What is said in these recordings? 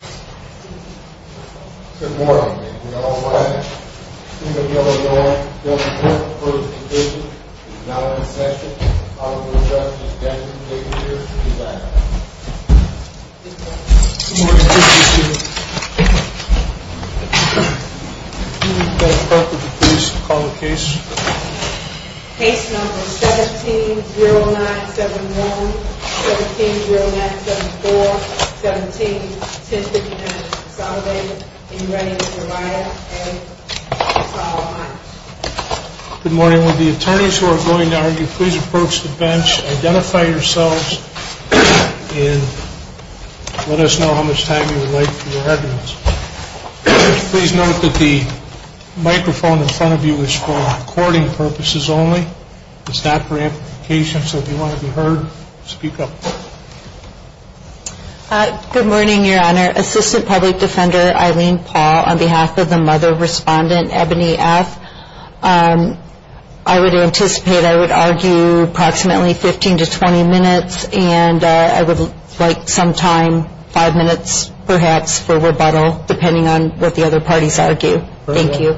Good Morning, we are all wedding. Our hearing just concluded the First Division is now over the session. Honorable inductees, please cancel to be ready to be interviewed in a few minutes. Good morning, president of the board. Good morning, precious young ьеu. Please come forward to the case and call the case. Case number 17-09-71 17-09-74 17-10-59 Salovey, are you ready to provide a follow-on? Good morning, will the attorneys who are going to argue please approach the bench, identify yourselves and let us know how much time you would like for your evidence. Please note that the microphone in front of you is for recording purposes only. It's not for amplification, so if you want to be heard speak up. Good morning, your honor. Assistant Public Defender Eileen Paul on behalf of the mother respondent, Ebony F. I would anticipate I would argue approximately 15 to 20 minutes and I would like some time, five minutes perhaps for rebuttal depending on what the other parties argue. Thank you.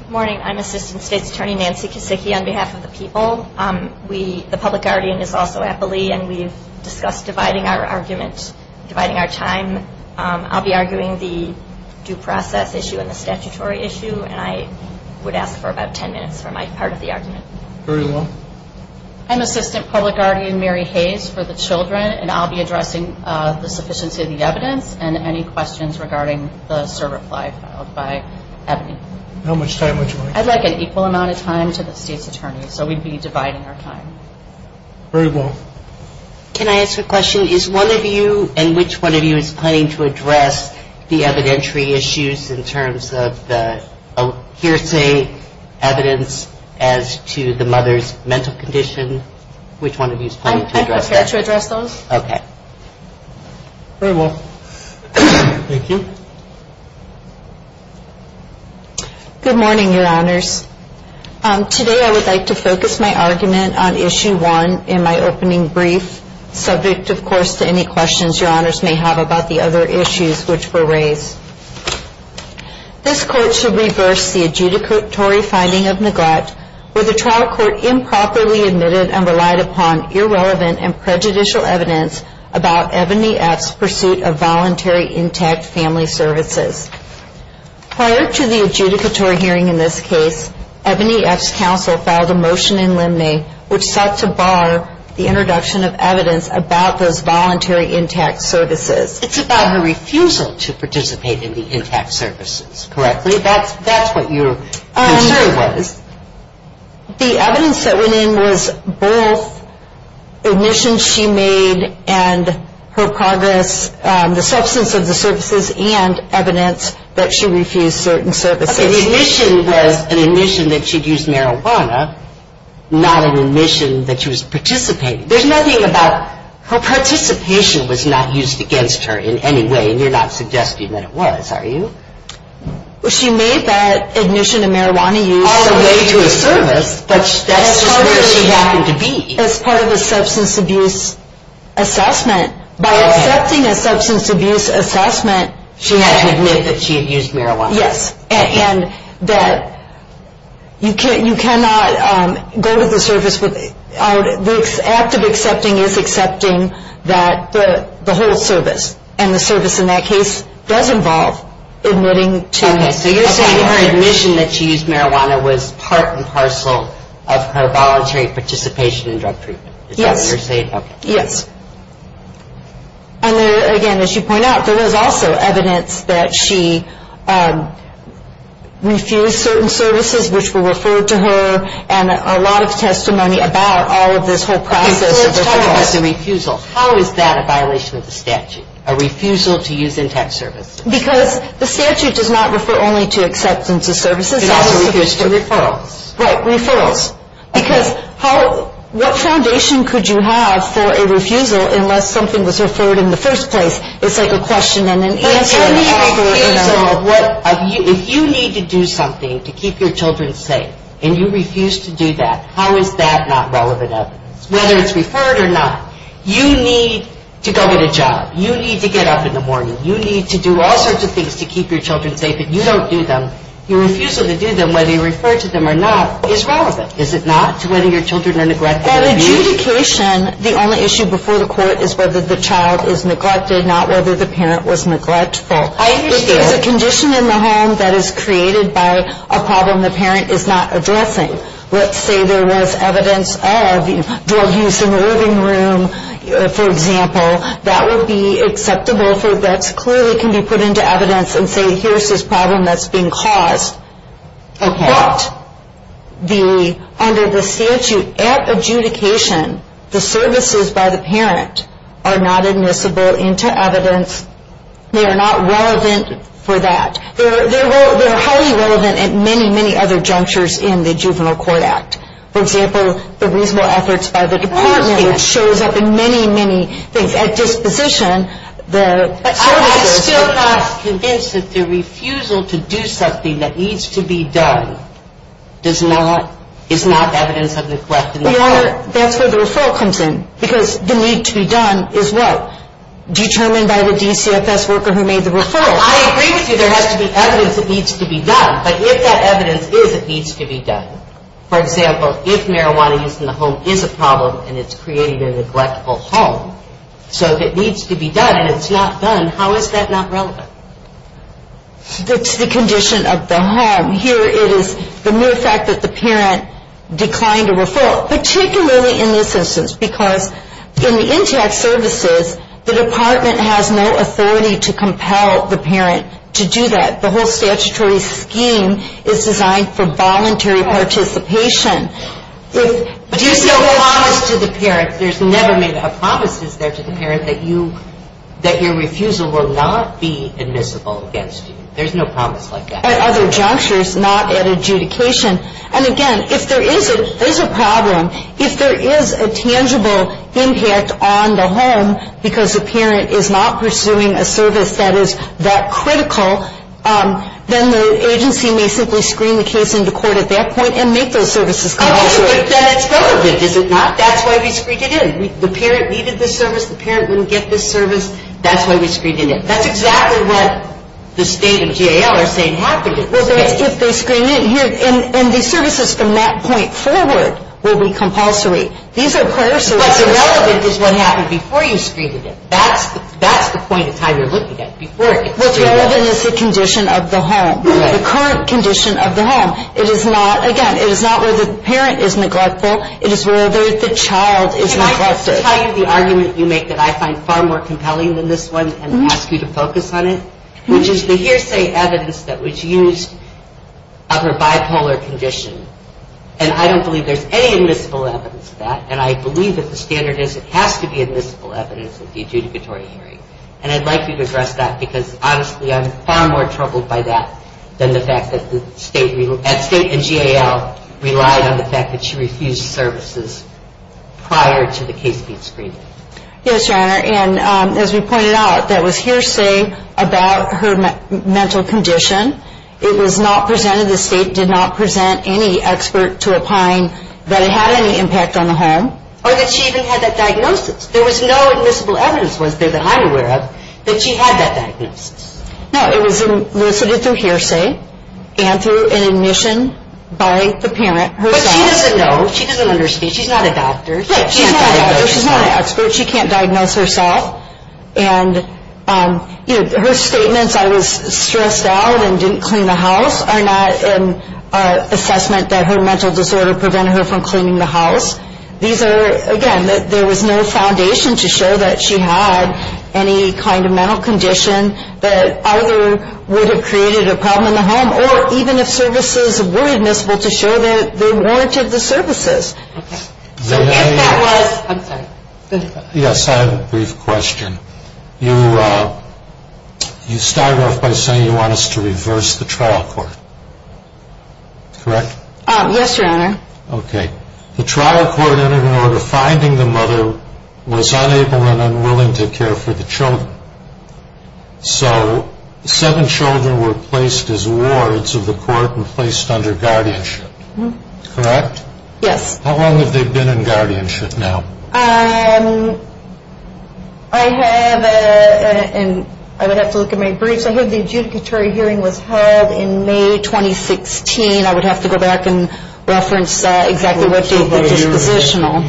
Good morning, I'm Assistant State's Attorney Nancy Kasicki on behalf of the people. We, the Public Guardian is also at Beli and we've discussed dividing our argument, dividing our time. I'll be arguing the due process issue and the statutory issue and I would ask for about 10 minutes for my part of the argument. Very well. I'm Assistant Public Guardian Mary Hayes for the children and I'll be addressing the sufficiency of the evidence and any questions regarding the certify filed by Ebony. How much time would you like? I'd like an equal amount of time to the State's Attorney. So we'd be dividing our time. Very well. Can I ask a question? Is one of you and which one of you is planning to address the evidentiary issues in terms of the hearsay evidence as to the mother's mental condition? Which one of you is planning to address that? I'm prepared to address those. Okay. Very well. Thank you. Good morning, your honors. Today I would like to focus my argument on issue one in my opening brief, subject of course to any questions your honors may have about the other issues which were raised. This court should reverse the adjudicatory finding of neglect where the trial court improperly admitted and relied upon irrelevant and prejudicial evidence about Ebony F's pursuit of voluntary intact family services. Prior to the adjudicatory hearing in this case, Ebony F's counsel filed a motion in limine which sought to bar the introduction of evidence about those voluntary intact services. It's about her refusal to participate in the intact services, correctly? That's what your concern was? The evidence that went in was both admissions she made and her progress, the substance of the services and evidence that she refused certain services. Okay, the admission was an admission that she'd used marijuana, not an admission that she was participating. There's nothing about her participation was not used against her in any way and you're not suggesting that it was, are you? Well, she made that admission to marijuana use all the way to a service, but that's just where she happened to be. As part of a substance abuse assessment, by accepting a substance abuse assessment. She had to admit that she had used marijuana. Yes, and that you cannot go to the service with the act of accepting is accepting that the whole service and the service in that case does involve admitting to. Okay, so you're saying her admission that she used marijuana was part and parcel of her voluntary participation in drug treatment. Is that what you're saying? Yes. And again, as you point out, there was also evidence that she refused certain services which were referred to her and a lot of testimony about all of this whole process. Okay, so let's talk about the refusal. How is that a violation of the statute? A refusal to use intact services? Because the statute does not refer only to acceptance of services. It also refers to referrals. Right, referrals. Because how, what foundation could you have for a refusal unless something was referred in the first place? It's like a question and an answer and an offer. But tell me the reason of what, if you need to do something to keep your children safe and you refuse to do that, how is that not relevant evidence? Whether it's referred or not. You need to go get a job. You need to get up in the morning. You need to do all sorts of things to keep your children safe and you don't do them. Your refusal to do them, whether you refer to them or not, is relevant. Is it not? Whether your children are neglected or abused? At adjudication, the only issue before the court is whether the child is neglected, not whether the parent was neglectful. I understand. If there's a condition in the home that is created by a problem the parent is not addressing, let's say there was evidence of drug use in the living room, for example, that would be acceptable for that clearly can be put into evidence and say here's this problem that's being caused. Okay. But under the statute at adjudication, the services by the parent are not admissible into evidence. They are not relevant for that. They're highly relevant at many, many other junctures in the Juvenile Court Act. For example, the reasonable efforts by the department shows up in many, many things. At disposition, the services- But I'm still not convinced that the refusal to do something that needs to be done is not evidence of neglect in the home. That's where the referral comes in because the need to be done is what? Determined by the DCFS worker who made the referral. I agree with you. There has to be evidence that needs to be done. But if that evidence is it needs to be done, for example, if marijuana use in the home is a problem and it's creating a neglectful home, so if it needs to be done and it's not done, how is that not relevant? It's the condition of the home. Here it is the mere fact that the parent declined a referral, particularly in this instance because in the intact services, the department has no authority to compel the parent to do that. The whole statutory scheme is designed for voluntary participation. But there's no promise to the parent. There's never made a promises there to the parent that your refusal will not be admissible against you. There's no promise like that. At other junctures, not at adjudication. And again, if there is a problem, if there is a tangible impact on the home because the parent is not pursuing a service that is that critical, then the agency may simply screen the case into court at that point and make those services compulsory. But then it's relevant, is it not? That's why we screened it in. The parent needed the service, the parent wouldn't get the service. That's why we screened it in. That's exactly what the state of GAL are saying happened at this stage. Well, that's if they screened it in. And the services from that point forward will be compulsory. These are prior services. But the relevant is what happened before you screened it in. That's the point of time you're looking at, before it gets screened in. What's relevant is the condition of the home, the current condition of the home. It is not, again, it is not where the parent is neglectful. It is where the child is neglected. I'll tell you the argument you make that I find far more compelling than this one and ask you to focus on it, which is the hearsay evidence that was used of her bipolar condition. And I don't believe there's any admissible evidence of that. And I believe that the standard is it has to be admissible evidence of the adjudicatory hearing. And I'd like you to address that because honestly, I'm far more troubled by that than the fact that the state and GAL relied on the fact that she refused services prior to the case being screened. Yes, Your Honor. And as we pointed out, that was hearsay about her mental condition. It was not presented, the state did not present any expert to opine that it had any impact on the home. Or that she even had that diagnosis. There was no admissible evidence was there that I'm aware of that she had that diagnosis. No, it was elicited through hearsay and through an admission by the parent herself. But she doesn't know. She doesn't understand. She's not a doctor. She's not a doctor. She's not an expert. She can't diagnose herself. And her statements, I was stressed out and didn't clean the house are not an assessment that her mental disorder prevented her from cleaning the house. These are, again, there was no foundation to show that she had any kind of mental condition that either would have created a problem in the home or even if services were admissible to show that they warranted the services. Okay. So if that was, I'm sorry. Yes, I have a brief question. You start off by saying you want us to reverse the trial court, correct? Yes, your honor. Okay. The trial court entered an order finding the mother was unable and unwilling to care for the children. So seven children were placed as wards of the court were placed under guardianship, correct? Yes. How long have they been in guardianship now? I have, and I would have to look at my briefs. I heard the adjudicatory hearing was held in May, 2016. I would have to go back and reference exactly what the dispositional,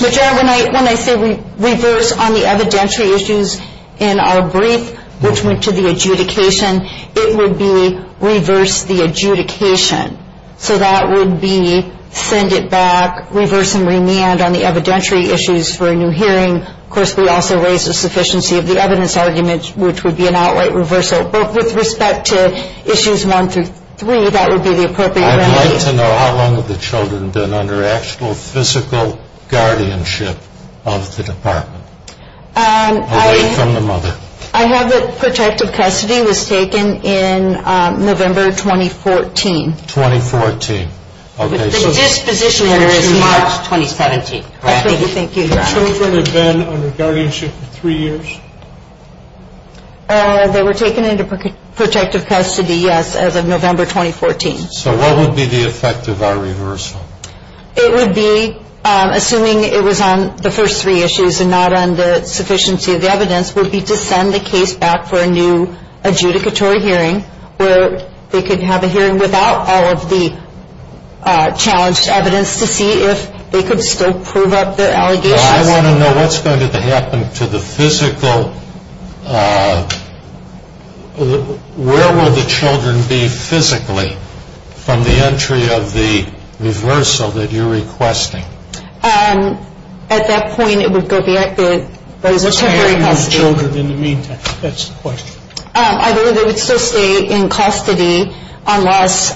which are when I say we reverse on the evidentiary issues in our brief, which went to the adjudication, it would be reverse the adjudication. So that would be send it back, reverse and remand on the evidentiary issues for a new hearing. Of course, we also raised a sufficiency of the evidence argument, which would be an outright reversal. But with respect to issues one through three, that would be the appropriate remedy. I'd like to know how long have the children been under actual physical guardianship of the department? Away from the mother. I have a protective custody was taken in November, 2014. 2014. Okay. The disposition is March, 2017. Thank you. The children have been under guardianship for three years? They were taken into protective custody, yes, as of November, 2014. So what would be the effect of our reversal? It would be assuming it was on the first three issues and not on the sufficiency of the evidence would be to send the case back for a new adjudicatory hearing where they could have a hearing without all of the challenged evidence to see if they could still prove up their allegations. I wanna know what's going to happen to the physical, where will the children be physically from the entry of the reversal that you're requesting? At that point, it would go back to temporary custody. What's going to happen to the children in the meantime? That's the question. I believe they would still stay in custody unless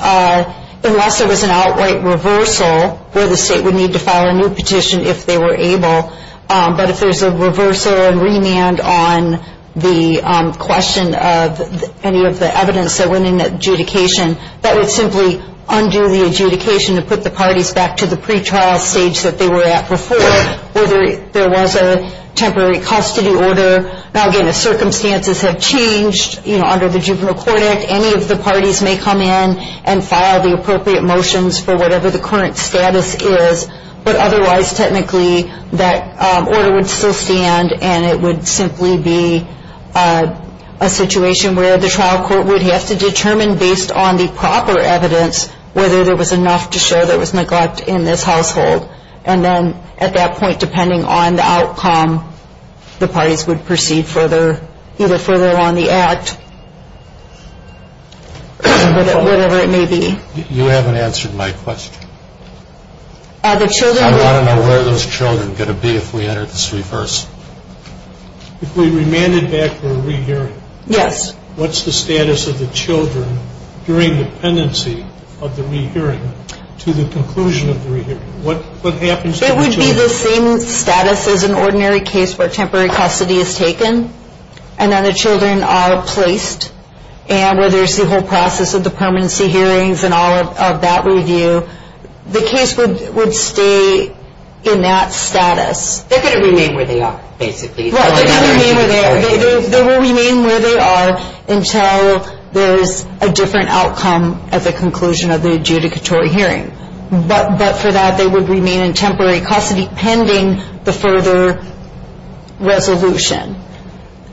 there was an outright reversal where the state would need to file a new petition if they were able. But if there's a reversal and remand on the question of any of the evidence that went in adjudication, that would simply undo the adjudication to put the parties back to the pretrial stage that they were at before, whether there was a temporary custody order. Now, again, if circumstances have changed under the Juvenile Court Act, any of the parties may come in and file the appropriate motions for whatever the current status is. But otherwise, technically, that order would still stand and it would simply be a situation where the trial court would have to determine based on the proper evidence whether there was enough to show there was neglect in this household. And then at that point, depending on the outcome, the parties would proceed further, either further along the act or whatever it may be. You haven't answered my question. Are the children- I want to know where those children are going to be if we enter the street first. If we remanded back for a rehearing, during dependency of the rehearing to the conclusion of the rehearing? What happens to the children? It would be the same status as an ordinary case where temporary custody is taken and then the children are placed. And where there's the whole process of the permanency hearings and all of that review, the case would stay in that status. They're going to remain where they are, basically. Well, they will remain where they are until there's a different outcome at the conclusion of the adjudicatory hearing. But for that, they would remain in temporary custody pending the further resolution.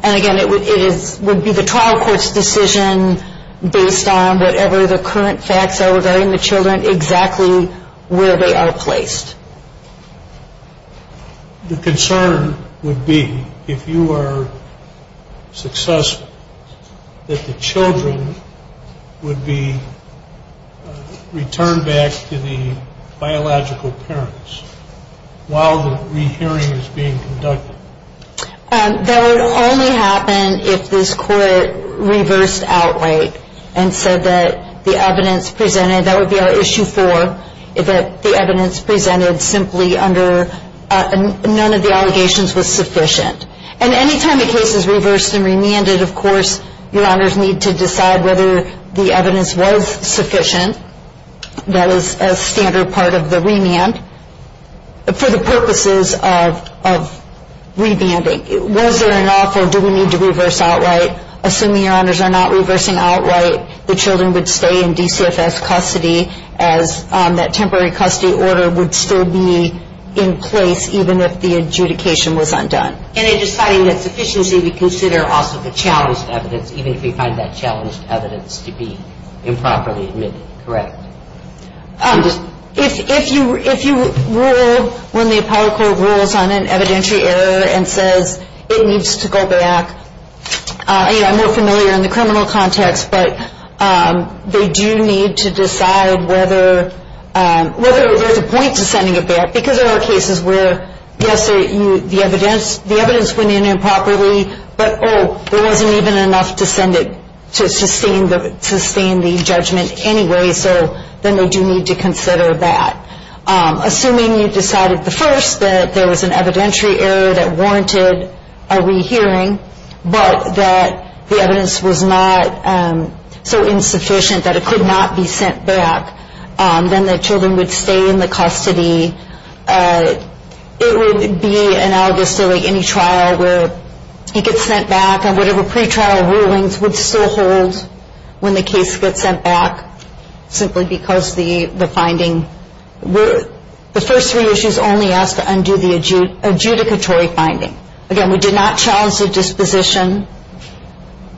And again, it would be the trial court's decision based on whatever the current facts are regarding the children, exactly where they are placed. The concern would be, if you are successful, that the children would be returned back to the biological parents while the rehearing is being conducted. That would only happen if this court reversed outright and said that the evidence presented, that would be our issue four, if the evidence presented simply under, none of the allegations was sufficient. And any time the case is reversed and remanded, your honors need to decide whether the evidence was sufficient. That is a standard part of the remand for the purposes of remanding. Was there an offer? Do we need to reverse outright? Assuming your honors are not reversing outright, the children would stay in DCFS custody as that temporary custody order would still be in place even if the adjudication was undone. And in deciding that sufficiency, we consider also the challenged evidence, even if we find that challenged evidence to be improperly admitted, correct? If you rule, when the Apollo Court rules on an evidentiary error and says it needs to go back, I'm more familiar in the criminal context, but they do need to decide whether there's a point to sending it back because there are cases where, yes, the evidence went in improperly, but, oh, there wasn't even enough to send it to sustain the judgment anyway, so then they do need to consider that. Assuming you decided the first, that there was an evidentiary error that warranted a rehearing, but that the evidence was not so insufficient that it could not be sent back, then the children would stay in the custody. It would be analogous to any trial where he gets sent back and whatever pretrial rulings would still hold when the case gets sent back simply because the finding, the first three issues only ask to undo the adjudicatory finding. Again, we did not challenge the disposition.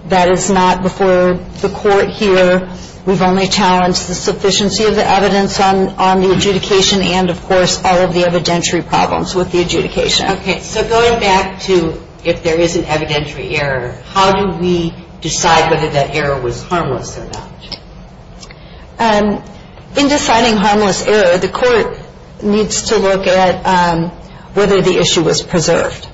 That is not before the court here. We've only challenged the sufficiency of the evidence on the adjudication and, of course, all of the evidentiary problems with the adjudication. Okay, so going back to if there is an evidentiary error, how do we decide whether that error was harmless or not? In deciding harmless error, the court needs to look at whether the issue was preserved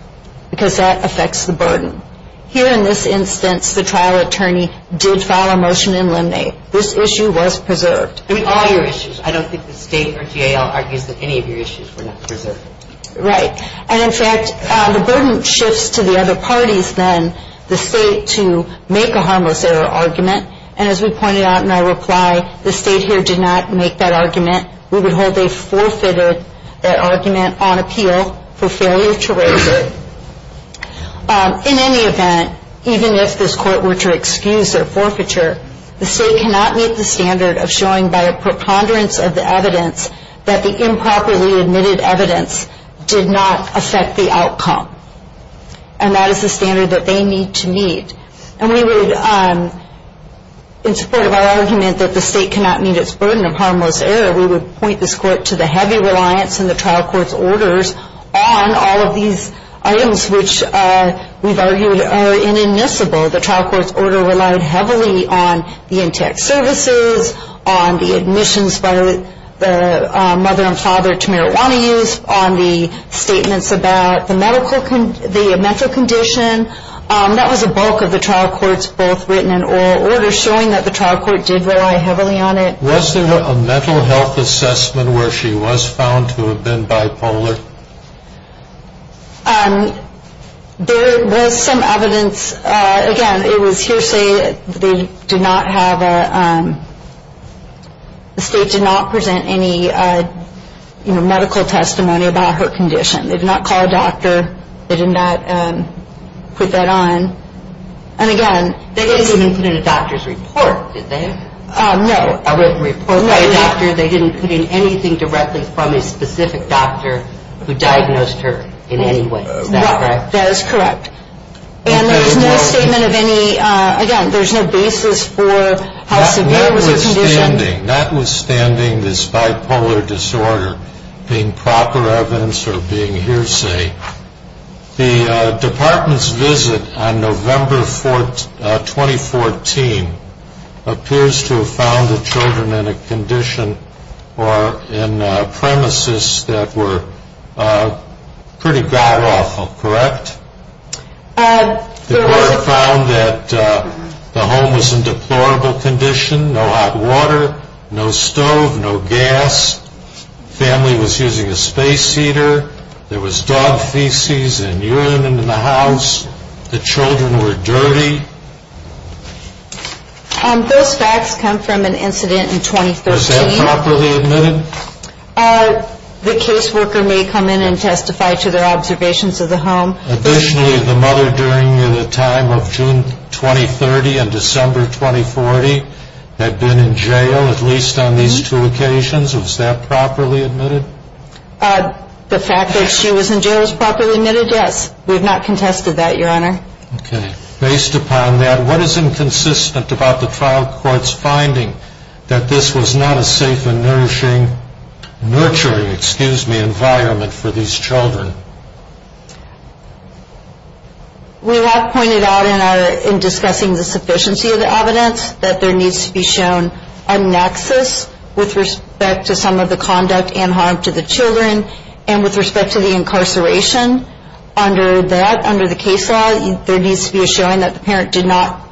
because that affects the burden. Here in this instance, the trial attorney did file a motion in limine. This issue was preserved. I mean, all your issues. I don't think the state or GAL argues that any of your issues were not preserved. Right, and in fact, the burden shifts to the other parties then, the state, to make a harmless error argument. And as we pointed out in our reply, the state here did not make that argument. We would hold a forfeited argument on appeal for failure to raise it. In any event, even if this court were to excuse their forfeiture, the state cannot meet the standard of showing by a preponderance of the evidence that the improperly admitted evidence did not affect the outcome. And that is the standard that they need to meet. And we would, in support of our argument that the state cannot meet its burden of harmless error, we would point this court to the heavy reliance in the trial court's orders on all of these items, which we've argued are inadmissible. The trial court's order relied heavily on the in-text services, on the admissions by the mother and father to marijuana use, on the statements about the medical condition. That was a bulk of the trial court's both written and oral order, showing that the trial court did rely heavily on it. Was there a mental health assessment where she was found to have been bipolar? There was some evidence, again, it was hearsay that they did not have a, the state did not present any, you know, medical testimony about her condition. They did not call a doctor. They did not put that on. And again- They didn't even put in a doctor's report, did they? No. A written report by a doctor, they didn't put in anything directly from a specific doctor who diagnosed her in any way. Is that correct? That is correct. And there was no statement of any, again, there's no basis for how severe was her condition. Notwithstanding this bipolar disorder being proper evidence or being hearsay, the department's visit on November 2014 appears to have found the children in a condition or in premises that were pretty god-awful, correct? The court found that the home was in deplorable condition, no hot water, no stove, no gas. Family was using a space heater. There was dog feces and urine in the house. The children were dirty. Those facts come from an incident in 2013. Was that properly admitted? The caseworker may come in and testify to their observations of the home. Additionally, the mother during the time of June 2030 and December 2040 had been in jail, at least on these two occasions. Was that properly admitted? The fact that she was in jail was properly admitted, yes. We have not contested that, Your Honor. Okay. Based upon that, what is inconsistent about the trial court's finding that this was not a safe and nourishing, nurturing, excuse me, environment for these children? We have pointed out in our, in discussing the sufficiency of the evidence that there needs to be shown a nexus with respect to some of the conduct and harm to the children and with respect to the incarceration. Under that, under the case law, there needs to be a showing that the parent did not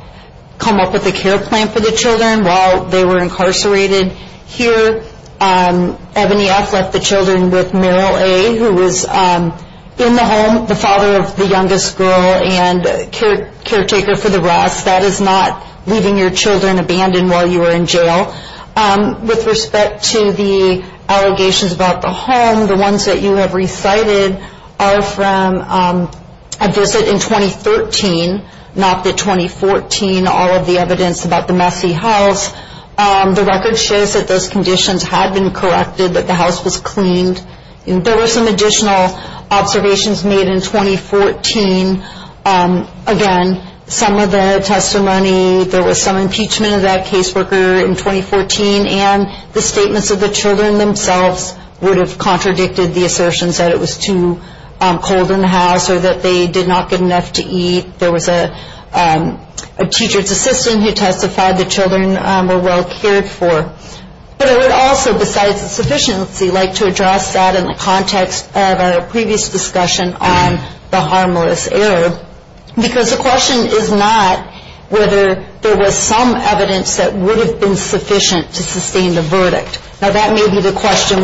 come up with a care plan for the children while they were incarcerated. Here, Ebony F. left the children with Meryl A., who was in the home, the father of the youngest girl and caretaker for the rest. That is not leaving your children abandoned while you were in jail. With respect to the allegations about the home, the ones that you have recited are from a visit in 2013, not the 2014, all of the evidence about the messy house. The record shows that those conditions had been corrected, that the house was cleaned. And there were some additional observations made in 2014. Again, some of the testimony, there was some impeachment of that caseworker in 2014, and the statements of the children themselves would have contradicted the assertions that it was too cold in the house or that they did not get enough to eat. There was a teacher's assistant who testified the children were well cared for. But I would also, besides the sufficiency, like to address that in the context of our previous discussion on the harmless error. Because the question is not whether there was some evidence that would have been sufficient to sustain the verdict. Now that may be the question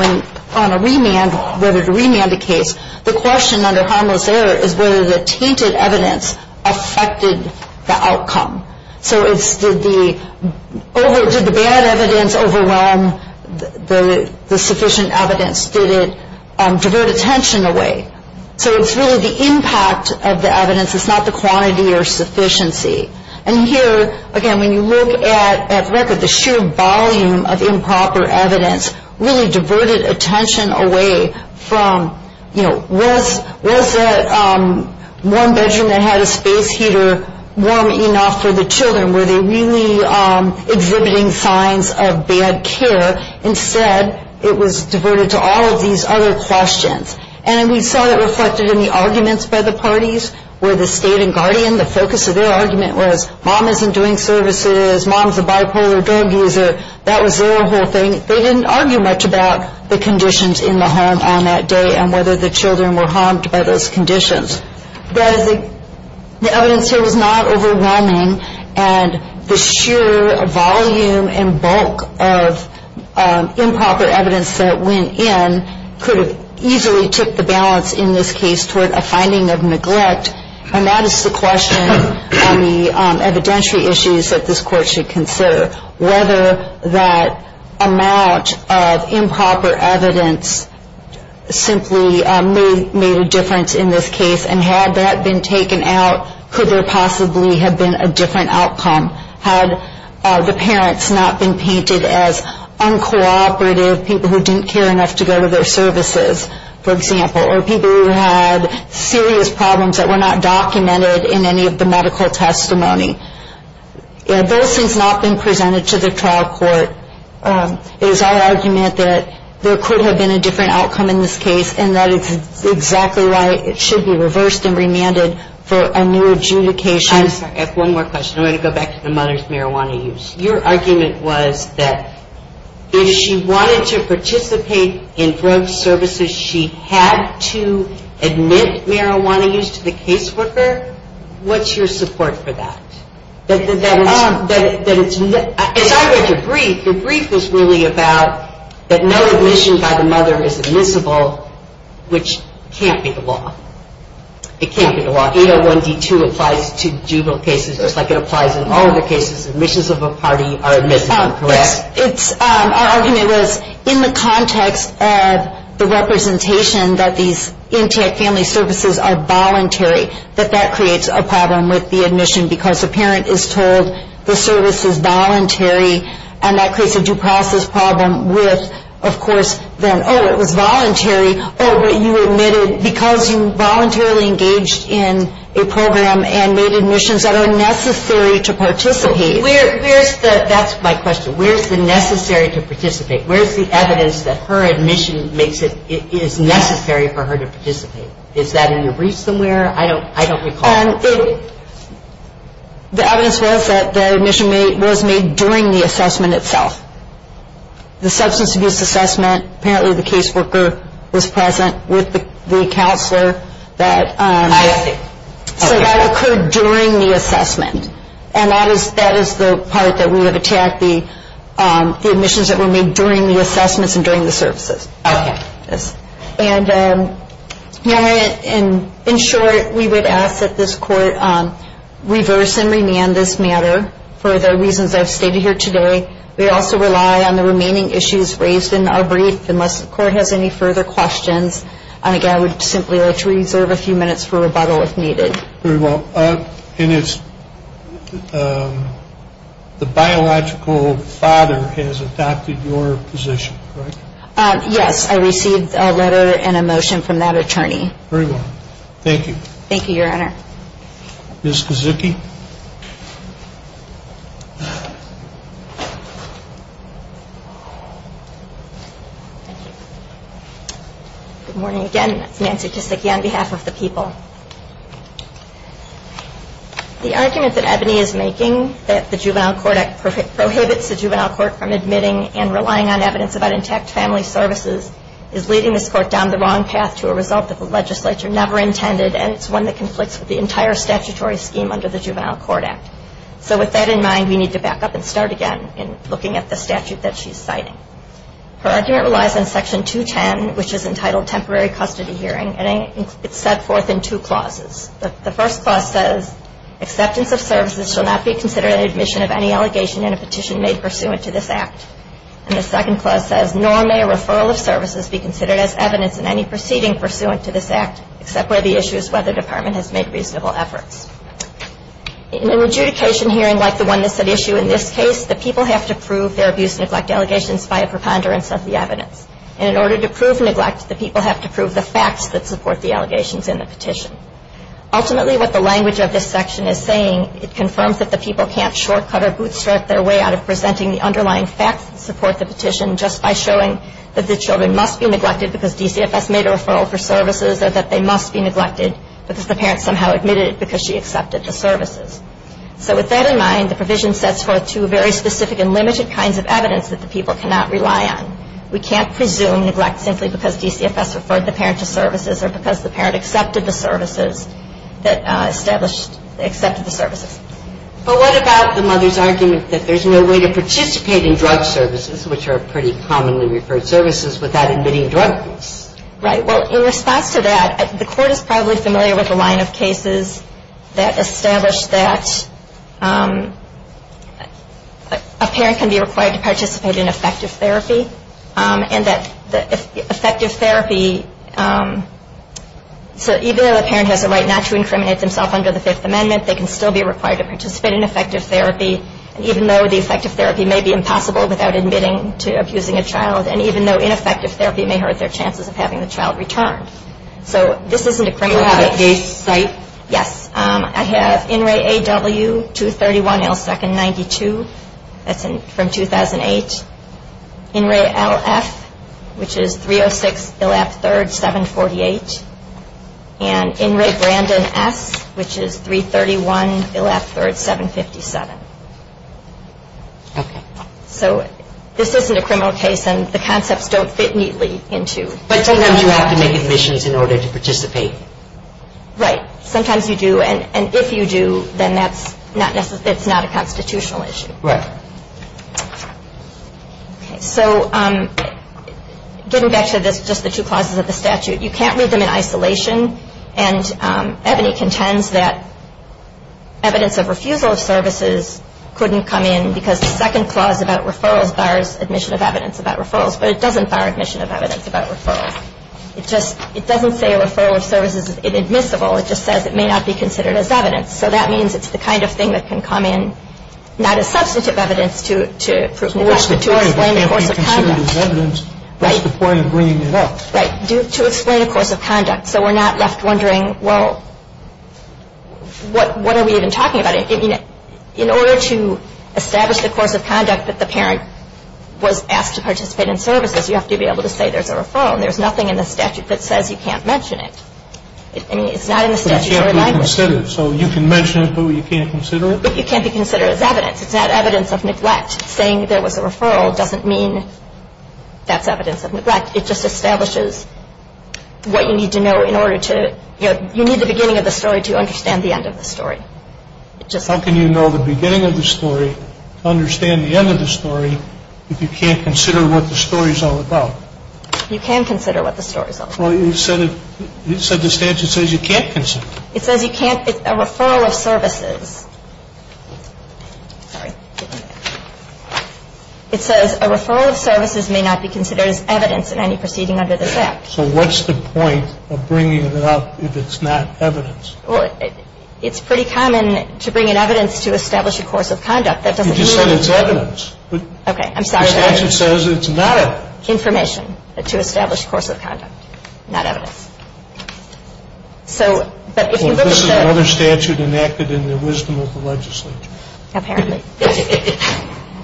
on a remand, whether to remand the case. The question under harmless error is whether the tainted evidence affected the outcome. So it's, did the bad evidence overwhelm the sufficient evidence? Did it divert attention away? So it's really the impact of the evidence, it's not the quantity or sufficiency. And here, again, when you look at record, the sheer volume of improper evidence really diverted attention away from, was that one bedroom that had a space heater warm enough for the children? Were they really exhibiting signs of bad care? Instead, it was diverted to all of these other questions. And we saw that reflected in the arguments by the parties, where the state and guardian, the focus of their argument was mom isn't doing services, mom's a bipolar dog user. That was their whole thing. They didn't argue much about the conditions in the home on that day, and whether the children were harmed by those conditions. That is, the evidence here was not overwhelming, and the sheer volume and bulk of improper evidence that went in could have easily tipped the balance in this case toward a finding of neglect. And that is the question on the evidentiary issues that this court should consider. Whether that amount of improper evidence simply made a difference in this case, and had that been taken out, could there possibly have been a different outcome? Had the parents not been painted as uncooperative, people who didn't care enough to go to their services, for example, or people who had serious problems that were not documented in any of the medical testimony? Had those things not been presented to the trial court, is our argument that there could have been a different outcome in this case, and that it's exactly right. It should be reversed and remanded for a new adjudication. I'm sorry, I have one more question. I'm gonna go back to the mother's marijuana use. Your argument was that if she wanted to participate in drug services, she had to admit marijuana use to the caseworker. What's your support for that? That it's, as I read your brief, your brief was really about that no admission by the mother is admissible, which can't be the law. It can't be the law. 801 D2 applies to juvenile cases, just like it applies in all other cases. Admissions of a party are admissible, correct? It's, our argument was in the context of the representation that these intake family services are voluntary, that that creates a problem with the admission because the parent is told the service is voluntary, and that creates a due process problem with, of course, then, oh, it was voluntary. Oh, but you admitted because you voluntarily engaged in a program and made admissions that are necessary to participate. Where's the, that's my question. Where's the necessary to participate? Where's the evidence that her admission makes it, is necessary for her to participate? Is that in your brief somewhere? I don't recall. The evidence was that the admission was made during the assessment itself. The substance abuse assessment, apparently the caseworker was present with the counselor that, so that occurred during the assessment. And that is the part that we have attacked, the admissions that were made during the assessments and during the services. Okay. And in short, we would ask that this court reverse and remand this matter for the reasons I've stated here today. We also rely on the remaining issues raised in our brief, unless the court has any further questions. And again, I would simply like to reserve a few minutes for rebuttal if needed. Very well. And it's, the biological father has adopted your position, correct? Yes, I received a letter and a motion from that attorney. Very well. Thank you. Thank you, Your Honor. Ms. Kaczucki. Good morning again. Nancy Kaczucki on behalf of the people. The argument that Ebony is making that the juvenile court prohibits the juvenile court from admitting and relying on evidence about intact family services is leading this court down the wrong path to a result that the legislature never intended and it's one that conflicts with the entire statutory scheme under the Juvenile Court Act. So with that in mind, we need to back up and start again in looking at the statute that she's citing. Her argument relies on Section 210, which is entitled Temporary Custody Hearing and it's set forth in two clauses. The first clause says, acceptance of services shall not be considered in admission of any allegation in a petition made pursuant to this act. And the second clause says, nor may a referral of services be considered as evidence in any proceeding pursuant to this act, except where the issue is whether the department has made reasonable efforts. In an adjudication hearing, like the one that's at issue in this case, the people have to prove their abuse and neglect allegations via preponderance of the evidence. And in order to prove neglect, the people have to prove the facts that support the allegations in the petition. Ultimately, what the language of this section is saying, it confirms that the people can't shortcut or bootstrap their way out of presenting the underlying facts that support the petition just by showing that the children must be neglected because DCFS made a referral for services or that they must be neglected because the parents somehow admitted it because she accepted the services. So with that in mind, the provision sets forth two very specific and limited kinds of evidence that the people cannot rely on. We can't presume neglect simply because DCFS referred the parent to services or because the parent accepted the services that established, accepted the services. But what about the mother's argument that there's no way to participate in drug services, which are pretty commonly referred services, without admitting drug use? Right, well, in response to that, the court is probably familiar with a line of cases that established that a parent can be required to participate in effective therapy and that effective therapy, so even though the parent has a right not to incriminate themself under the Fifth Amendment, they can still be required to participate in effective therapy, even though the effective therapy may be impossible without admitting to abusing a child. And even though ineffective therapy may hurt their chances of having the child returned. So this isn't a criminal case. Do you have a case site? Yes, I have INRAE-AW-231-L2-92. That's from 2008. INRAE-LF, which is 306-ILF-3-748. And INRAE-Brandon-S, which is 331-ILF-3-757. Okay. So this isn't a criminal case and the concepts don't fit neatly into. But sometimes you have to make admissions in order to participate. Right, sometimes you do. And if you do, then that's not a constitutional issue. Right. So getting back to just the two clauses of the statute, you can't read them in isolation. And Ebony contends that evidence of refusal of services couldn't come in because the second clause about referrals bars admission of evidence about referrals, but it doesn't bar admission of evidence about referrals. It just, it doesn't say a referral of services is inadmissible. It just says it may not be considered as evidence. So that means it's the kind of thing that can come in not as substantive evidence to explain the course of conduct. Right. That's the point of bringing it up. Right, to explain the course of conduct. So we're not left wondering, well, what are we even talking about? I mean, in order to establish the course of conduct that the parent was asked to participate in services, you have to be able to say there's a referral and there's nothing in the statute that says you can't mention it. I mean, it's not in the statutory language. But it can't be considered. So you can mention it, but you can't consider it? It can't be considered as evidence. It's not evidence of neglect. Saying there was a referral doesn't mean that's evidence of neglect. It just establishes what you need to know in order to, you know, you need the beginning of the story to understand the end of the story. It just- How can you know the beginning of the story to understand the end of the story if you can't consider what the story's all about? You can consider what the story's all about. Well, you said the statute says you can't consider it. It says you can't, it's a referral of services. Sorry. It says a referral of services may not be considered as evidence in any proceeding under this act. So what's the point of bringing it up if it's not evidence? Well, it's pretty common to bring in evidence to establish a course of conduct. You just said it's evidence. Okay, I'm sorry. The statute says it's not evidence. Information to establish a course of conduct, not evidence. So, but if you look at the- Well, this is another statute enacted in the wisdom of the legislature. Apparently.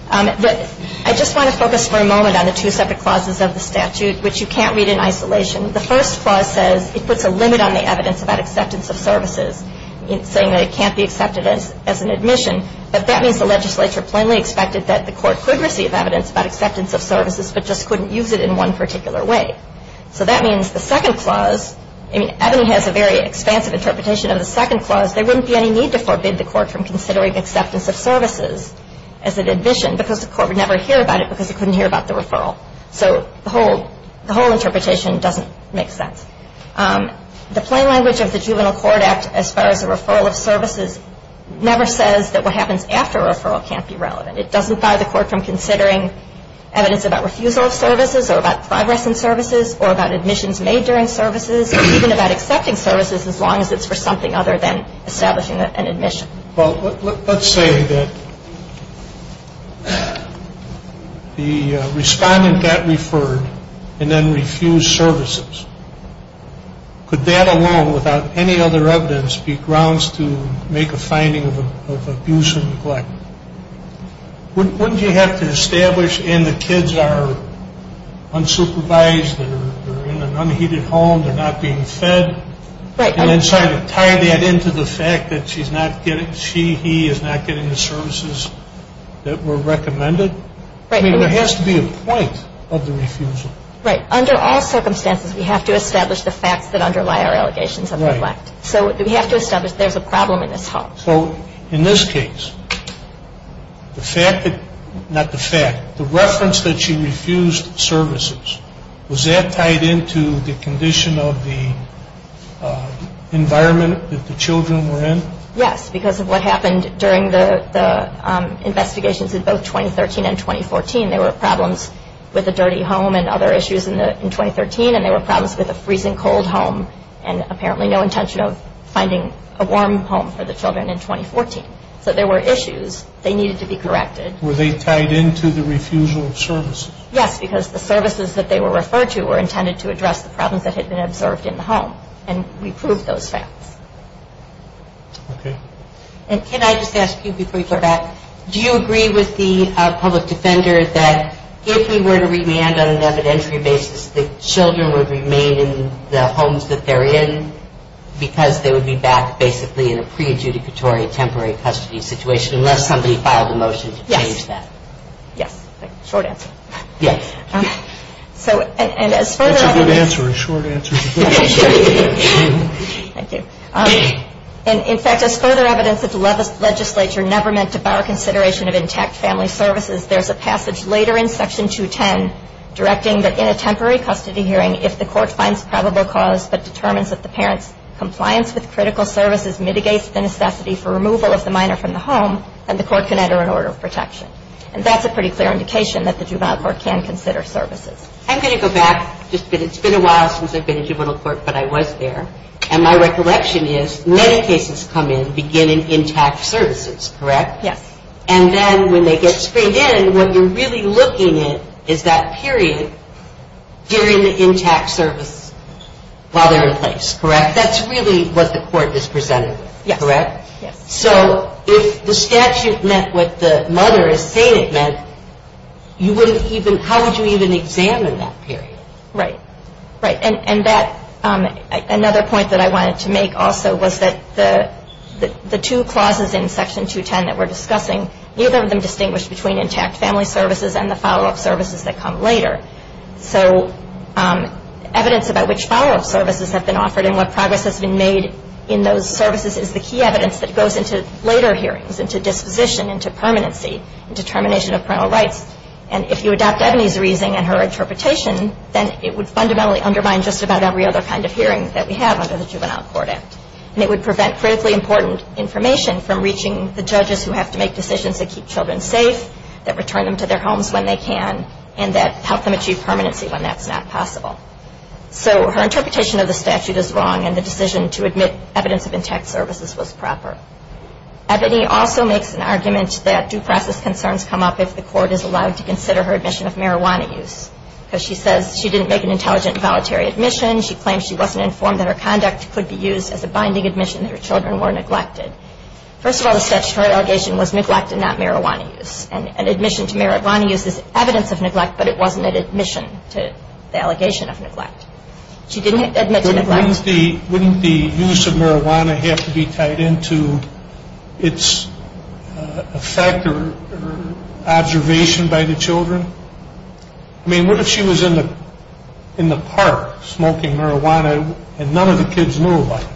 But I just want to focus for a moment on the two separate clauses of the statute, which you can't read in isolation. The first clause says it puts a limit on the evidence about acceptance of services, saying that it can't be accepted as an admission. But that means the legislature plainly expected that the court could receive evidence about acceptance of services, but just couldn't use it in one particular way. So that means the second clause, I mean, Ebony has a very expansive interpretation of the second clause. There wouldn't be any need to forbid the court from considering acceptance of services as an admission, because the court would never hear about it because it couldn't hear about the referral. So the whole interpretation doesn't make sense. The plain language of the Juvenile Court Act as far as a referral of services never says that what happens after a referral can't be relevant. It doesn't fire the court from considering evidence about refusal of services or about progress in services or about admissions made during services, even about accepting services, as long as it's for something other than establishing an admission. Well, let's say that the respondent got referred and then refused services. Could that alone without any other evidence be grounds to make a finding of abuse and neglect? Wouldn't you have to establish, and the kids are unsupervised, they're in an unheated home, they're not being fed. Right. And then try to tie that into the fact that she's not getting, she, he is not getting the services that were recommended. Right. I mean, there has to be a point of the refusal. Right, under all circumstances, we have to establish the facts that underlie our allegations of neglect. So we have to establish there's a problem in this home. So in this case, the fact that, not the fact, the reference that she refused services, was that tied into the condition of the environment that the children were in? Yes, because of what happened during the investigations in both 2013 and 2014, there were problems with a dirty home and other issues in 2013, and there were problems with a freezing cold home and apparently no intention of finding a warm home for the children in 2014. So there were issues, they needed to be corrected. Were they tied into the refusal of services? Yes, because the services that they were referred to were intended to address the problems that had been observed in the home and we proved those facts. Okay. And can I just ask you before you go back, do you agree with the public defender that if we were to remand on an evidentiary basis, the children would remain in the homes that they're in because they would be back basically in a pre-adjudicatory temporary custody situation unless somebody filed a motion to change that? Yes. Short answer. Yes. So, and as further evidence- That's a good answer, a short answer. That's a good answer. Thank you. And in fact, as further evidence that the legislature never meant to bar consideration of intact family services, there's a passage later in section 210 directing that in a temporary custody hearing, if the court finds probable cause but determines that the parent's compliance with critical services mitigates the necessity for removal of the minor from the home, then the court can enter an order of protection. And that's a pretty clear indication that the juvenile court can consider services. I'm going to go back just a bit. It's been a while since I've been in juvenile court, but I was there. And my recollection is many cases come in beginning intact services, correct? Yes. And then when they get screened in, what you're really looking at is that period during the intact service while they're in place, correct? That's really what the court is presented with, correct? Yes. So if the statute met what the mother is saying it meant, you wouldn't even, how would you even examine that period? Right, right. And that, another point that I wanted to make also was that the two clauses in section 210 that we're discussing, neither of them distinguished between intact family services and the follow-up services that come later. So evidence about which follow-up services have been offered and what progress has been made in those services is the key evidence that goes into later hearings, into disposition, into permanency, into termination of parental rights. And if you adopt Ebony's reasoning and her interpretation, then it would fundamentally undermine just about every other kind of hearing that we have under the Juvenile Court Act. And it would prevent critically important information from reaching the judges who have to make decisions that keep children safe, that return them to their homes when they can, and that help them achieve permanency when that's not possible. So her interpretation of the statute is wrong and the decision to admit evidence of intact services was proper. Ebony also makes an argument that due process concerns come up if the court is allowed to consider her admission of marijuana use. Because she says she didn't make an intelligent and voluntary admission. She claims she wasn't informed that her conduct could be used as a binding admission that her children were neglected. First of all, the statutory allegation was neglect and not marijuana use. And admission to marijuana use is evidence of neglect, but it wasn't an admission to the allegation of neglect. She didn't admit to neglect. Wouldn't the use of marijuana have to be tied into its effect or observation by the children? I mean, what if she was in the park smoking marijuana and none of the kids knew about it?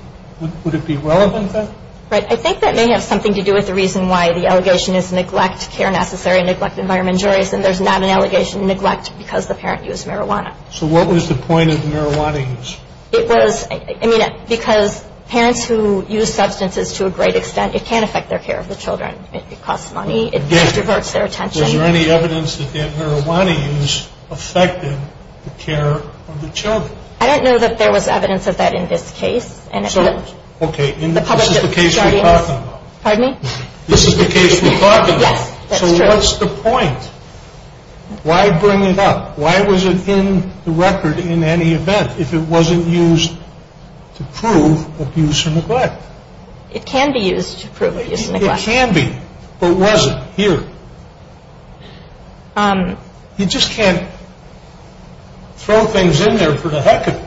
Would it be relevant then? Right, I think that may have something to do with the reason why the allegation is neglect, care necessary, neglect environment juries. And there's not an allegation of neglect because the parent used marijuana. So what was the point of marijuana use? It was, I mean, because parents who use substances to a great extent, it can affect their care of the children. It costs money, it diverts their attention. Was there any evidence that that marijuana use affected the care of the children? I don't know that there was evidence of that in this case. So, okay, this is the case we're talking about. Pardon me? This is the case we're talking about. Yes, that's true. So what's the point? Why bring it up? Why was it in the record in any event if it wasn't used to prove abuse or neglect? It can be used to prove abuse or neglect. It can be, but was it here? You just can't throw things in there for the heck of it.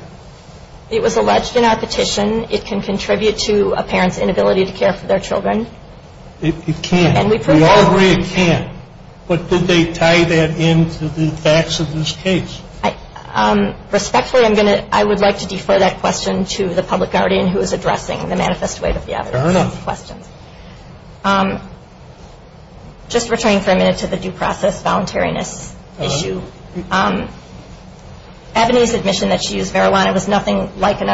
It was alleged in our petition. It can contribute to a parent's inability to care for their children. It can. We all agree it can. But did they tie that in to the facts of this case? Respectfully, I would like to defer that question to the public guardian who is addressing the manifest way of the evidence. Fair enough. Just returning for a minute to the due process voluntariness issue. Ebony's admission that she used marijuana was nothing like an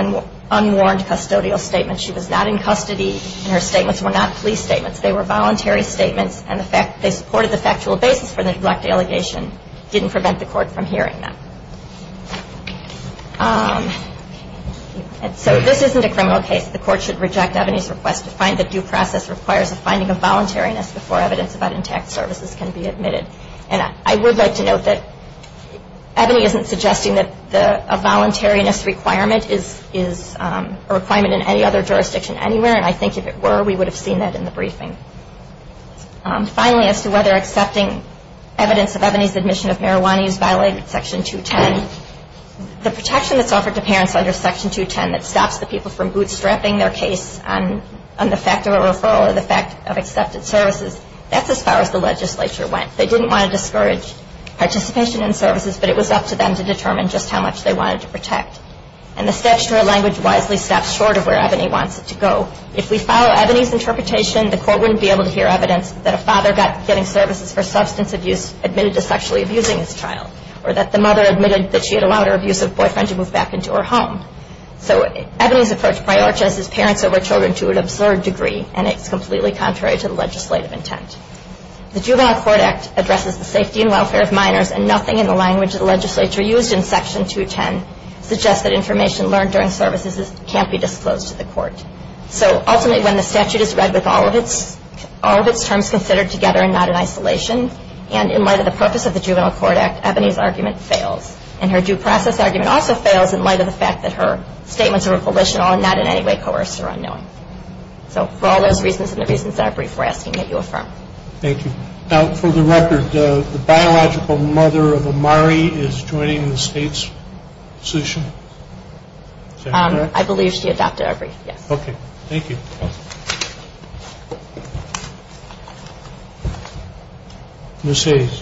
unwarned custodial statement. She was not in custody, and her statements were not police statements. They were voluntary statements, and they supported the factual basis for the neglect allegation. Didn't prevent the court from hearing them. So this isn't a criminal case. The court should reject Ebony's request to find that due process requires a finding of voluntariness before evidence about intact services can be admitted. And I would like to note that Ebony isn't suggesting that a voluntariness requirement is a requirement in any other jurisdiction anywhere, and I think if it were, we would have seen that in the briefing. Finally, as to whether accepting evidence of Ebony's admission of marijuana is violated in section 210. The protection that's offered to parents under section 210 that stops the people from bootstrapping their case on the fact of a referral or the fact of accepted services, that's as far as the legislature went. They didn't want to discourage participation in services, but it was up to them to determine just how much they wanted to protect. And the statutory language wisely stops short of where Ebony wants it to go. If we follow Ebony's interpretation, the court wouldn't be able to hear evidence that a father getting services for substance abuse admitted to sexually abusing his child, or that the mother admitted that she had allowed her abusive boyfriend to move back into her home. So Ebony's approach prioritizes parents over children to an absurd degree, and it's completely contrary to the legislative intent. The Juvenile Court Act addresses the safety and welfare of minors, and nothing in the language the legislature used in section 210 suggests that information learned during services can't be disclosed to the court. So ultimately, when the statute is read with all of its terms considered together and not in isolation, and in light of the purpose of the Juvenile Court Act, Ebony's argument fails. And her due process argument also fails in light of the fact that her statements are revolutional and not in any way coerced or unknowing. So for all those reasons and the reasons that are brief, we're asking that you affirm. Thank you. Now, for the record, the biological mother of Amari is joining the state's position? I believe she adopted our brief, yes. Okay, thank you. Ms. Hayes.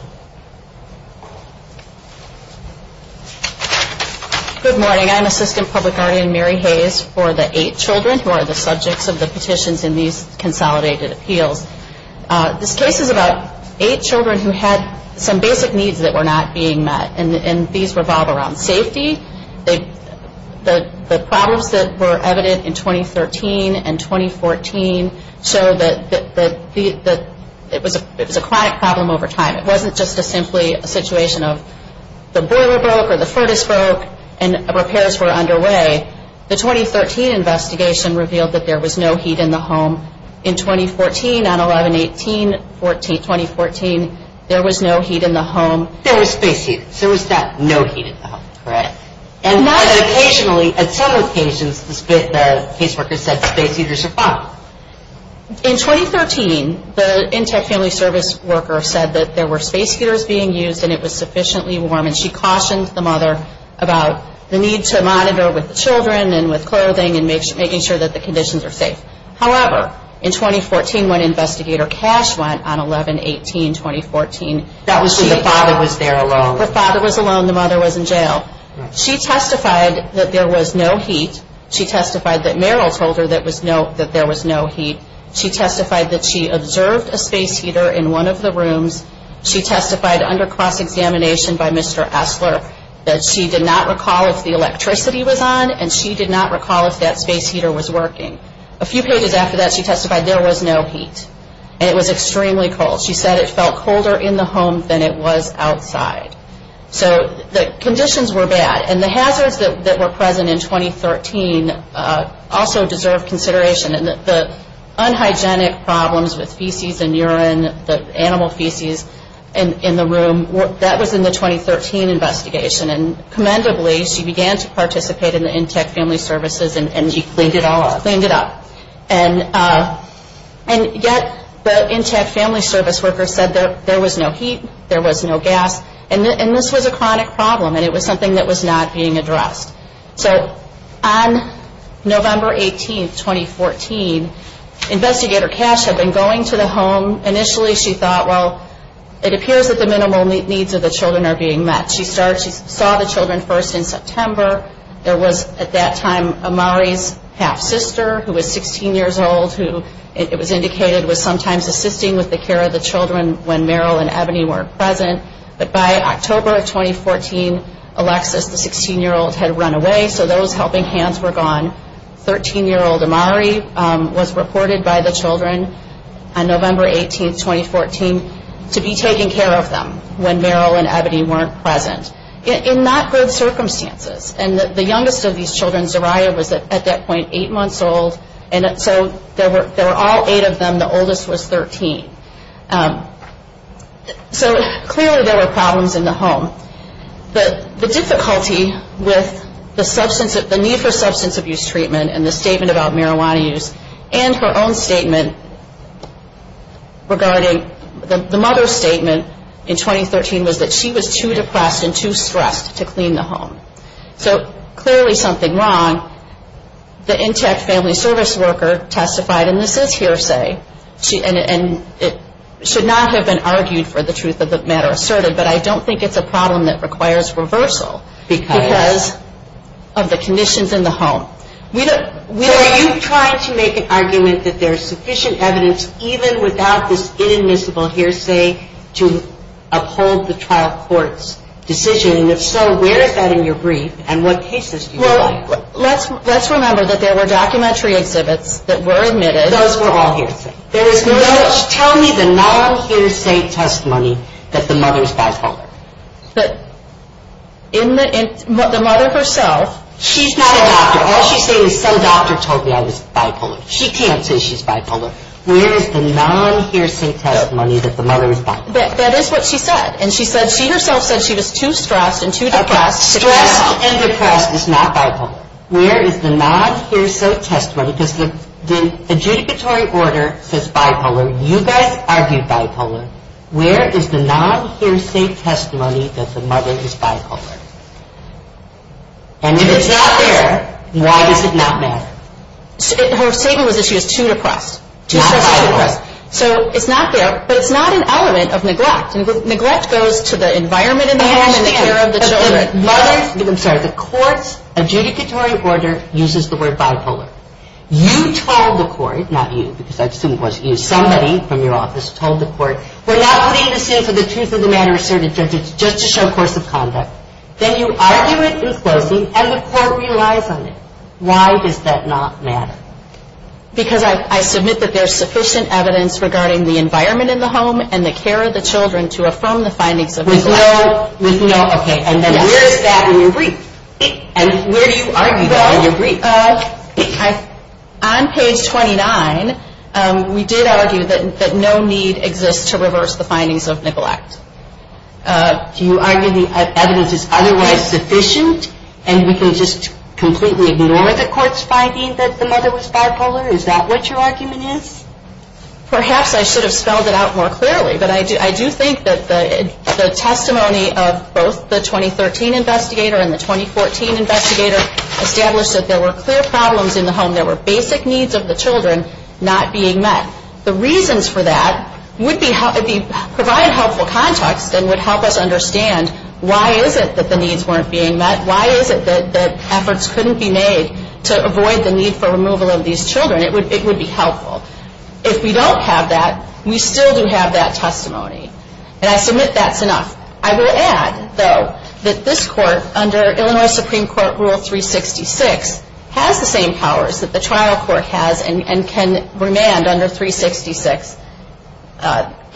Good morning. I'm Assistant Public Guardian Mary Hayes for the eight children who are the subjects of the petitions in these consolidated appeals. This case is about eight children who had some basic needs that were not being met. And these revolve around safety. The problems that were evident in 2013 and 2014 show that it was a chronic problem over time. It wasn't just simply a situation of the boiler broke or the furnace broke and repairs were underway. The 2013 investigation revealed that there was no heat in the home. In 2014, on 11-18-2014, there was no heat in the home. There was space heaters. There was no heat in the home, correct? And occasionally, at some locations, the caseworker said space heaters are fine. In 2013, the Intech Family Service worker said that there were space heaters being used and it was sufficiently warm. And she cautioned the mother about the need to monitor with the children and with clothing and making sure that the conditions are safe. However, in 2014, when Investigator Cash went on 11-18-2014, that was when the father was there alone. The father was alone. The mother was in jail. She testified that there was no heat. She testified that Meryl told her that there was no heat. She testified that she observed a space heater in one of the rooms. She testified under cross-examination by Mr. Esler that she did not recall if the electricity was on and she did not recall if that space heater was working. A few pages after that, she testified there was no heat. And it was extremely cold. She said it felt colder in the home than it was outside. So the conditions were bad. And the hazards that were present in 2013 also deserve consideration. And the unhygienic problems with feces and urine, the animal feces in the room, that was in the 2013 investigation. And commendably, she began to participate in the Intech Family Services and she cleaned it all up, cleaned it up. And yet, the Intech Family Service workers said there was no heat, there was no gas, and this was a chronic problem and it was something that was not being addressed. So on November 18th, 2014, Investigator Cash had been going to the home. Initially, she thought, well, it appears that the minimal needs of the children are being met. She saw the children first in September. There was, at that time, Amari's half-sister, who was 16 years old, who, it was indicated, was sometimes assisting with the care of the children when Meryl and Ebony weren't present. But by October of 2014, Alexis, the 16-year-old, had run away, so those helping hands were gone. 13-year-old Amari was reported by the children on November 18th, 2014, to be taking care of them when Meryl and Ebony weren't present. In not good circumstances, and the youngest of these children, Zariah, was at that point eight months old, and so there were all eight of them. The oldest was 13. So clearly, there were problems in the home. The difficulty with the need for substance abuse treatment and the statement about marijuana use and her own statement regarding, the mother's statement in 2013 was that she was too depressed and too stressed to clean the home. So, clearly something wrong. The intact family service worker testified, and this is hearsay, and it should not have been argued for the truth of the matter asserted, but I don't think it's a problem that requires reversal because of the conditions in the home. Are you trying to make an argument that there's sufficient evidence, even without this inadmissible hearsay, to uphold the trial court's decision? And if so, where is that in your brief, and what cases do you like? Let's remember that there were documentary exhibits that were admitted. Those were all hearsay. There was no... Tell me the non-hearsay testimony that the mother's bipolar. But in the, the mother herself... She's not a doctor. All she's saying is, some doctor told me I was bipolar. She can't say she's bipolar. Where is the non-hearsay testimony that the mother is bipolar? That is what she said, and she said she herself said she was too stressed and too depressed. Stressed and depressed is not bipolar. Where is the non-hearsay testimony, because the adjudicatory order says bipolar. You guys argued bipolar. Where is the non-hearsay testimony that the mother is bipolar? And if it's not there, why does it not matter? Her statement was that she was too depressed. Not bipolar. So it's not there, but it's not an element of neglect. Neglect goes to the environment in the home and the care of the children. The mother's, I'm sorry, the court's adjudicatory order uses the word bipolar. You told the court, not you, because I assume it was you, somebody from your office told the court, we're not putting the suit for the truth-of-the-matter-asserted judges just to show course of conduct. Then you argue it in closing, and the court relies on it. Why does that not matter? Because I submit that there's sufficient evidence regarding the environment in the home and the care of the children to affirm the findings of neglect. With no, okay, and then where is that in your brief? And where do you argue that in your brief? On page 29, we did argue that no need exists to reverse the findings of neglect. Do you argue the evidence is otherwise sufficient, and we can just completely ignore the court's finding that the mother was bipolar? Is that what your argument is? Perhaps I should have spelled it out more clearly, but I do think that the testimony of both the 2013 investigator and the 2014 investigator established that there were clear problems in the home. There were basic needs of the children not being met. The reasons for that would be, provide helpful context and would help us understand why is it that the needs weren't being met? Why is it that efforts couldn't be made to avoid the need for removal of these children? It would be helpful. If we don't have that, we still do have that testimony. And I submit that's enough. I will add, though, that this court under Illinois Supreme Court Rule 366 has the same powers that the trial court has and can remand under 366.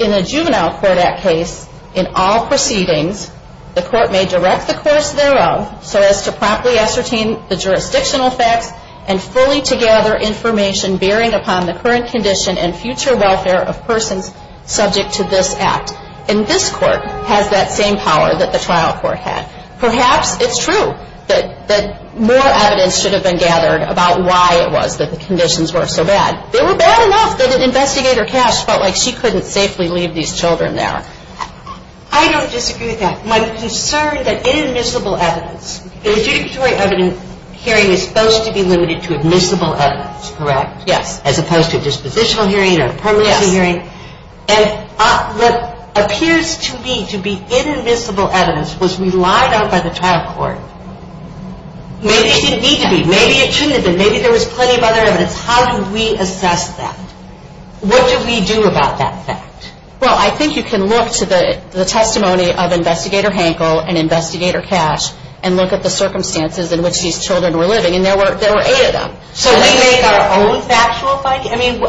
In a Juvenile Court Act case, in all proceedings, the court may direct the courts thereof so as to properly ascertain the jurisdictional facts and fully to gather information bearing upon the current condition and future welfare of persons subject to this act. And this court has that same power that the trial court had. Perhaps it's true that more evidence should have been gathered about why it was that the conditions were so bad. They were bad enough that an investigator, Cash, felt like she couldn't safely leave these children there. I don't disagree with that. My concern that inadmissible evidence, the adjudicatory evidence hearing is supposed to be limited to admissible evidence, correct? Yes. As opposed to a dispositional hearing or a permanency hearing. And what appears to me to be inadmissible evidence was relied on by the trial court. Maybe it didn't need to be. Maybe it shouldn't have been. Maybe there was plenty of other evidence. How do we assess that? What do we do about that fact? Well, I think you can look to the testimony of Investigator Hankel and Investigator Cash and look at the circumstances in which these children were living. And there were eight of them. So we make our own factual finding? I mean,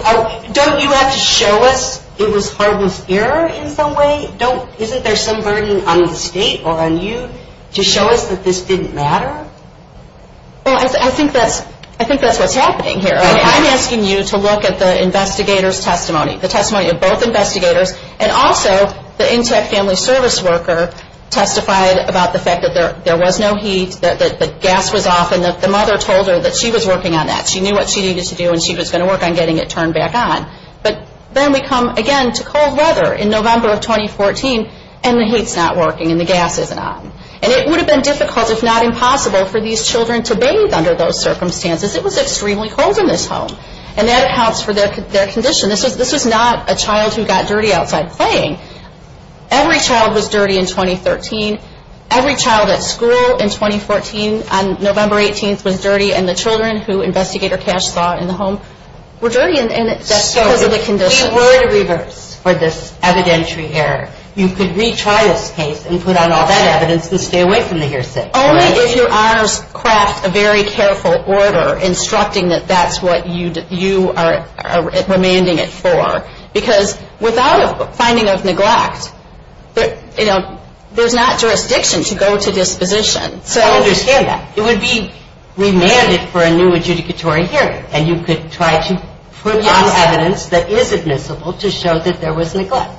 don't you have to show us it was harmless error in some way? Isn't there some burden on the state or on you to show us that this didn't matter? Well, I think that's what's happening here. I'm asking you to look at the investigator's testimony, the testimony of both investigators and also the Intech Family Service worker testified about the fact that there was no heat, the gas was off and the mother told her that she was working on that. She knew what she needed to do and she was gonna work on getting it turned back on. But then we come again to cold weather in November of 2014 and the heat's not working and the gas isn't on. And it would have been difficult, if not impossible, for these children to bathe under those circumstances. It was extremely cold in this home. And that accounts for their condition. This was not a child who got dirty outside playing. Every child was dirty in 2013. Every child at school in 2014 on November 18th was dirty and the children who Investigator Cash saw in the home were dirty and that's because of the conditions. So if we were to reverse for this evidentiary error, you could retry this case and put on all that evidence and stay away from the hearsay, correct? Only if your honors craft a very careful order instructing that that's what you are remanding it for. Because without a finding of neglect, you know, there's not jurisdiction to go to disposition. So- I understand that. It would be remanded for a new adjudicatory hearing and you could try to put on evidence that is admissible to show that there was neglect.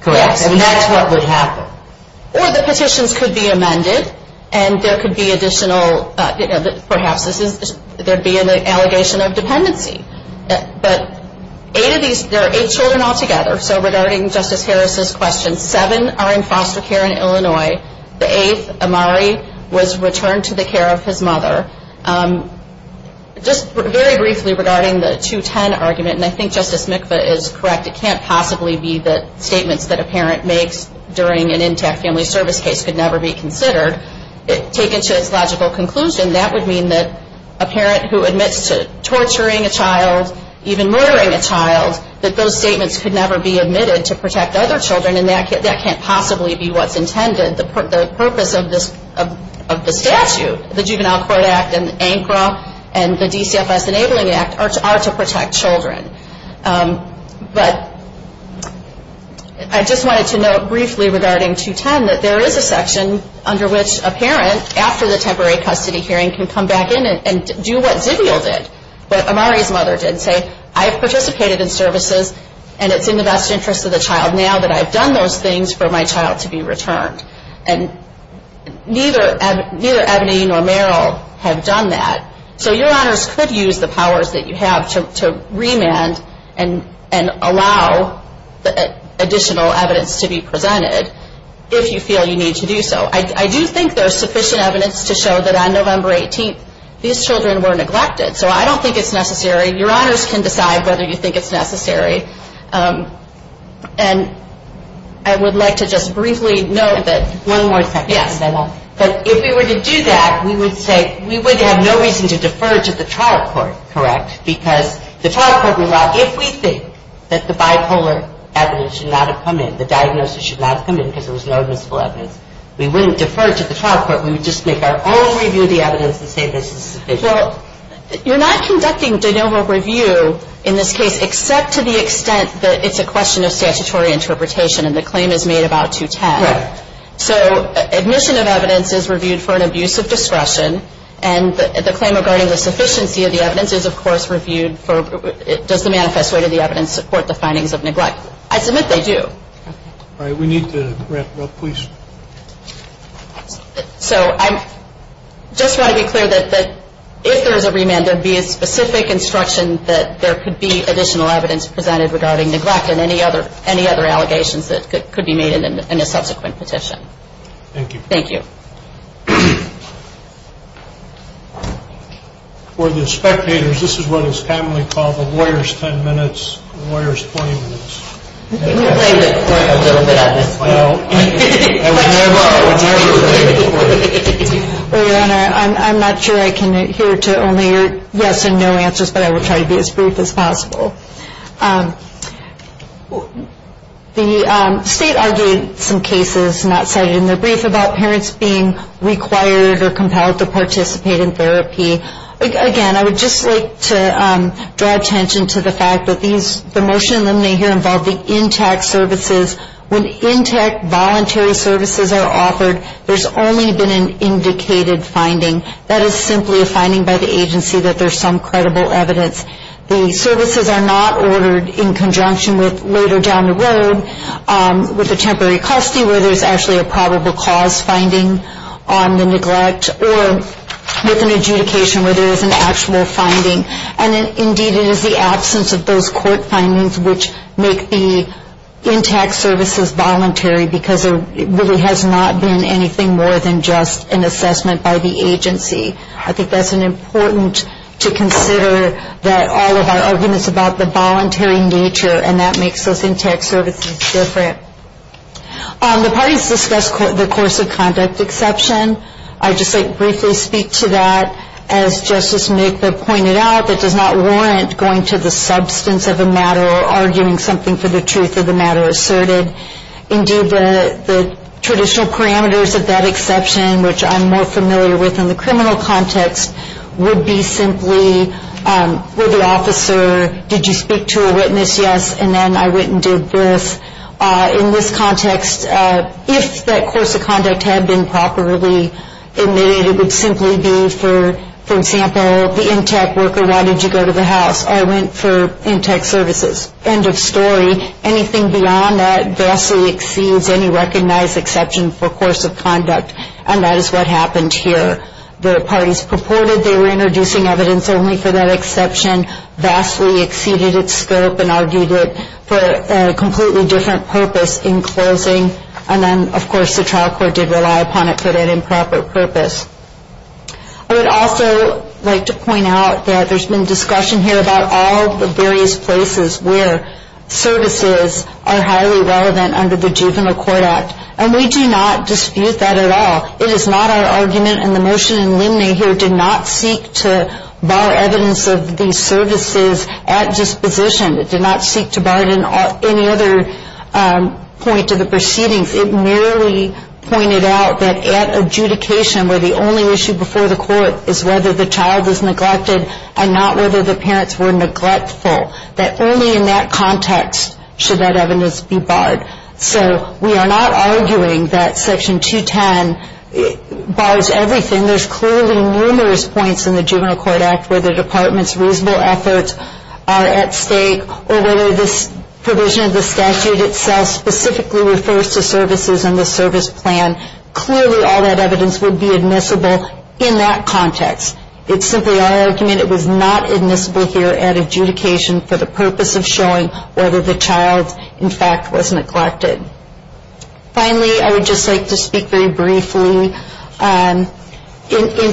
Correct. And that's what would happen. Or the petitions could be amended and there could be additional, perhaps there'd be an allegation of dependency. But eight of these, there are eight children all together. So regarding Justice Harris's question, seven are in foster care in Illinois. The eighth, Amari, was returned to the care of his mother. Just very briefly regarding the 210 argument and I think Justice Mikva is correct. It can't possibly be that statements that a parent makes during an intact family service case could never be considered. Taken to its logical conclusion, to torturing a child, even murdering a child, that those statements could never be admitted to protect other children and that can't possibly be what's intended. The purpose of the statute, the Juvenile Court Act and ANCRA and the DCFS Enabling Act are to protect children. But I just wanted to note briefly regarding 210 that there is a section under which a parent, after the temporary custody hearing, can come back in and do what Zivial did. What Amari's mother did say, I have participated in services and it's in the best interest of the child now that I've done those things for my child to be returned. And neither Ebony nor Meryl have done that. So your honors could use the powers that you have to remand and allow additional evidence to be presented if you feel you need to do so. I do think there's sufficient evidence to show that on November 18th, these children were neglected. So I don't think it's necessary. Your honors can decide whether you think it's necessary. And I would like to just briefly note that- One more second. Yes. But if we were to do that, we would say we would have no reason to defer to the trial court, correct? Because the trial court would allow, if we think that the bipolar evidence should not have come in, the diagnosis should not have come in because there was no admissible evidence, we wouldn't defer to the trial court. We would just make our own review of the evidence and say this is sufficient. Well, you're not conducting de novo review in this case except to the extent that it's a question of statutory interpretation and the claim is made about 210. So admission of evidence is reviewed for an abuse of discretion and the claim regarding the sufficiency of the evidence is of course reviewed for, does the manifest weight of the evidence support the findings of neglect? I submit they do. All right, we need to wrap up, please. So I just want to be clear that if there is a remand there would be a specific instruction that there could be additional evidence presented regarding neglect and any other allegations that could be made in a subsequent petition. Thank you. Thank you. For the spectators, this is what is commonly called the lawyer's 10 minutes, lawyer's 20 minutes. Can you explain it a little bit at this point? No. I mean, I would never, I would never. Well, Your Honor, I'm not sure I can adhere to only your yes and no answers, but I will try to be as brief as possible. The state argued some cases, not cited in their brief, about parents being required or compelled to participate in therapy. Again, I would just like to draw attention to the fact that the motion in the minute here involved the intact services. When intact voluntary services are offered, there's only been an indicated finding. That is simply a finding by the agency that there's some credible evidence. The services are not ordered in conjunction with later down the road with a temporary custody where there's actually a probable cause finding on the neglect or with an adjudication where there is an actual finding. And indeed, it is the absence of those court findings which make the intact services voluntary because there really has not been anything more than just an assessment by the agency. I think that's an important to consider that all of our arguments about the voluntary nature and that makes those intact services different. The parties discussed the course of conduct exception. I'd just like to briefly speak to that as Justice Mika pointed out, that does not warrant going to the substance of a matter or arguing something for the truth of the matter asserted. Indeed, the traditional parameters of that exception, which I'm more familiar with in the criminal context, would be simply, will the officer, did you speak to a witness? Yes, and then I went and did this. In this context, if that course of conduct had been properly admitted, it would simply be, for example, the intact worker, why did you go to the house? I went for intact services. End of story. Anything beyond that vastly exceeds any recognized exception for course of conduct and that is what happened here. The parties purported they were introducing evidence only for that exception, vastly exceeded its scope and argued it for a completely different purpose in closing and then, of course, the trial court did rely upon it for that improper purpose. I would also like to point out that there's been discussion here about all the various places where services are highly relevant under the Juvenile Court Act and we do not dispute that at all. It is not our argument and the motion in Limney here did not seek to bar evidence of these services at disposition. It did not seek to bar any other point to the proceedings. It merely pointed out that at adjudication where the only issue before the court is whether the child is neglected and not whether the parents were neglectful, that only in that context should that evidence be barred. So we are not arguing that section 210 bars everything. There's clearly numerous points in the Juvenile Court Act where the department's reasonable efforts are at stake or whether this provision of the statute itself specifically refers to services and the service plan. Clearly all that evidence would be admissible in that context. It's simply our argument it was not admissible here at adjudication for the purpose of showing whether the child in fact was neglected. Finally, I would just like to speak very briefly. In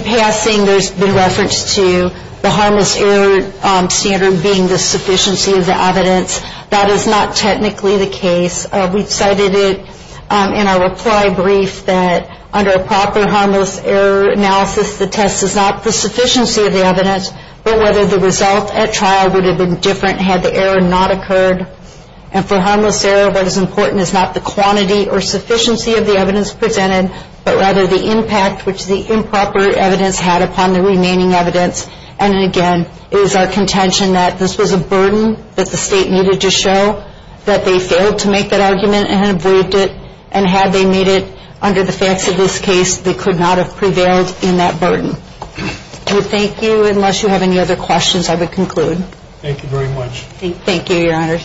passing, there's been reference to the harmless error standard being the sufficiency of the evidence. That is not technically the case. We've cited it in our reply brief that under a proper harmless error analysis, the test is not the sufficiency of the evidence, but whether the result at trial would have been different had the error not occurred. And for harmless error, what is important is not the quantity or sufficiency of the evidence presented, but rather the impact which the improper evidence had upon the remaining evidence. And again, it is our contention that this was a burden that the state needed to show that they failed to make that argument and had waived it and had they made it under the facts of this case, they could not have prevailed in that burden. We thank you. Unless you have any other questions, I would conclude. Thank you very much. Thank you, your honor.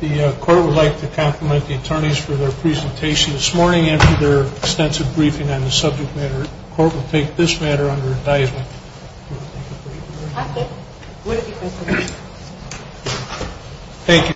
The court would like to compliment the attorneys for their presentation this morning after their extensive briefing on the subject matter. Court will take this matter under advisement. Thank you.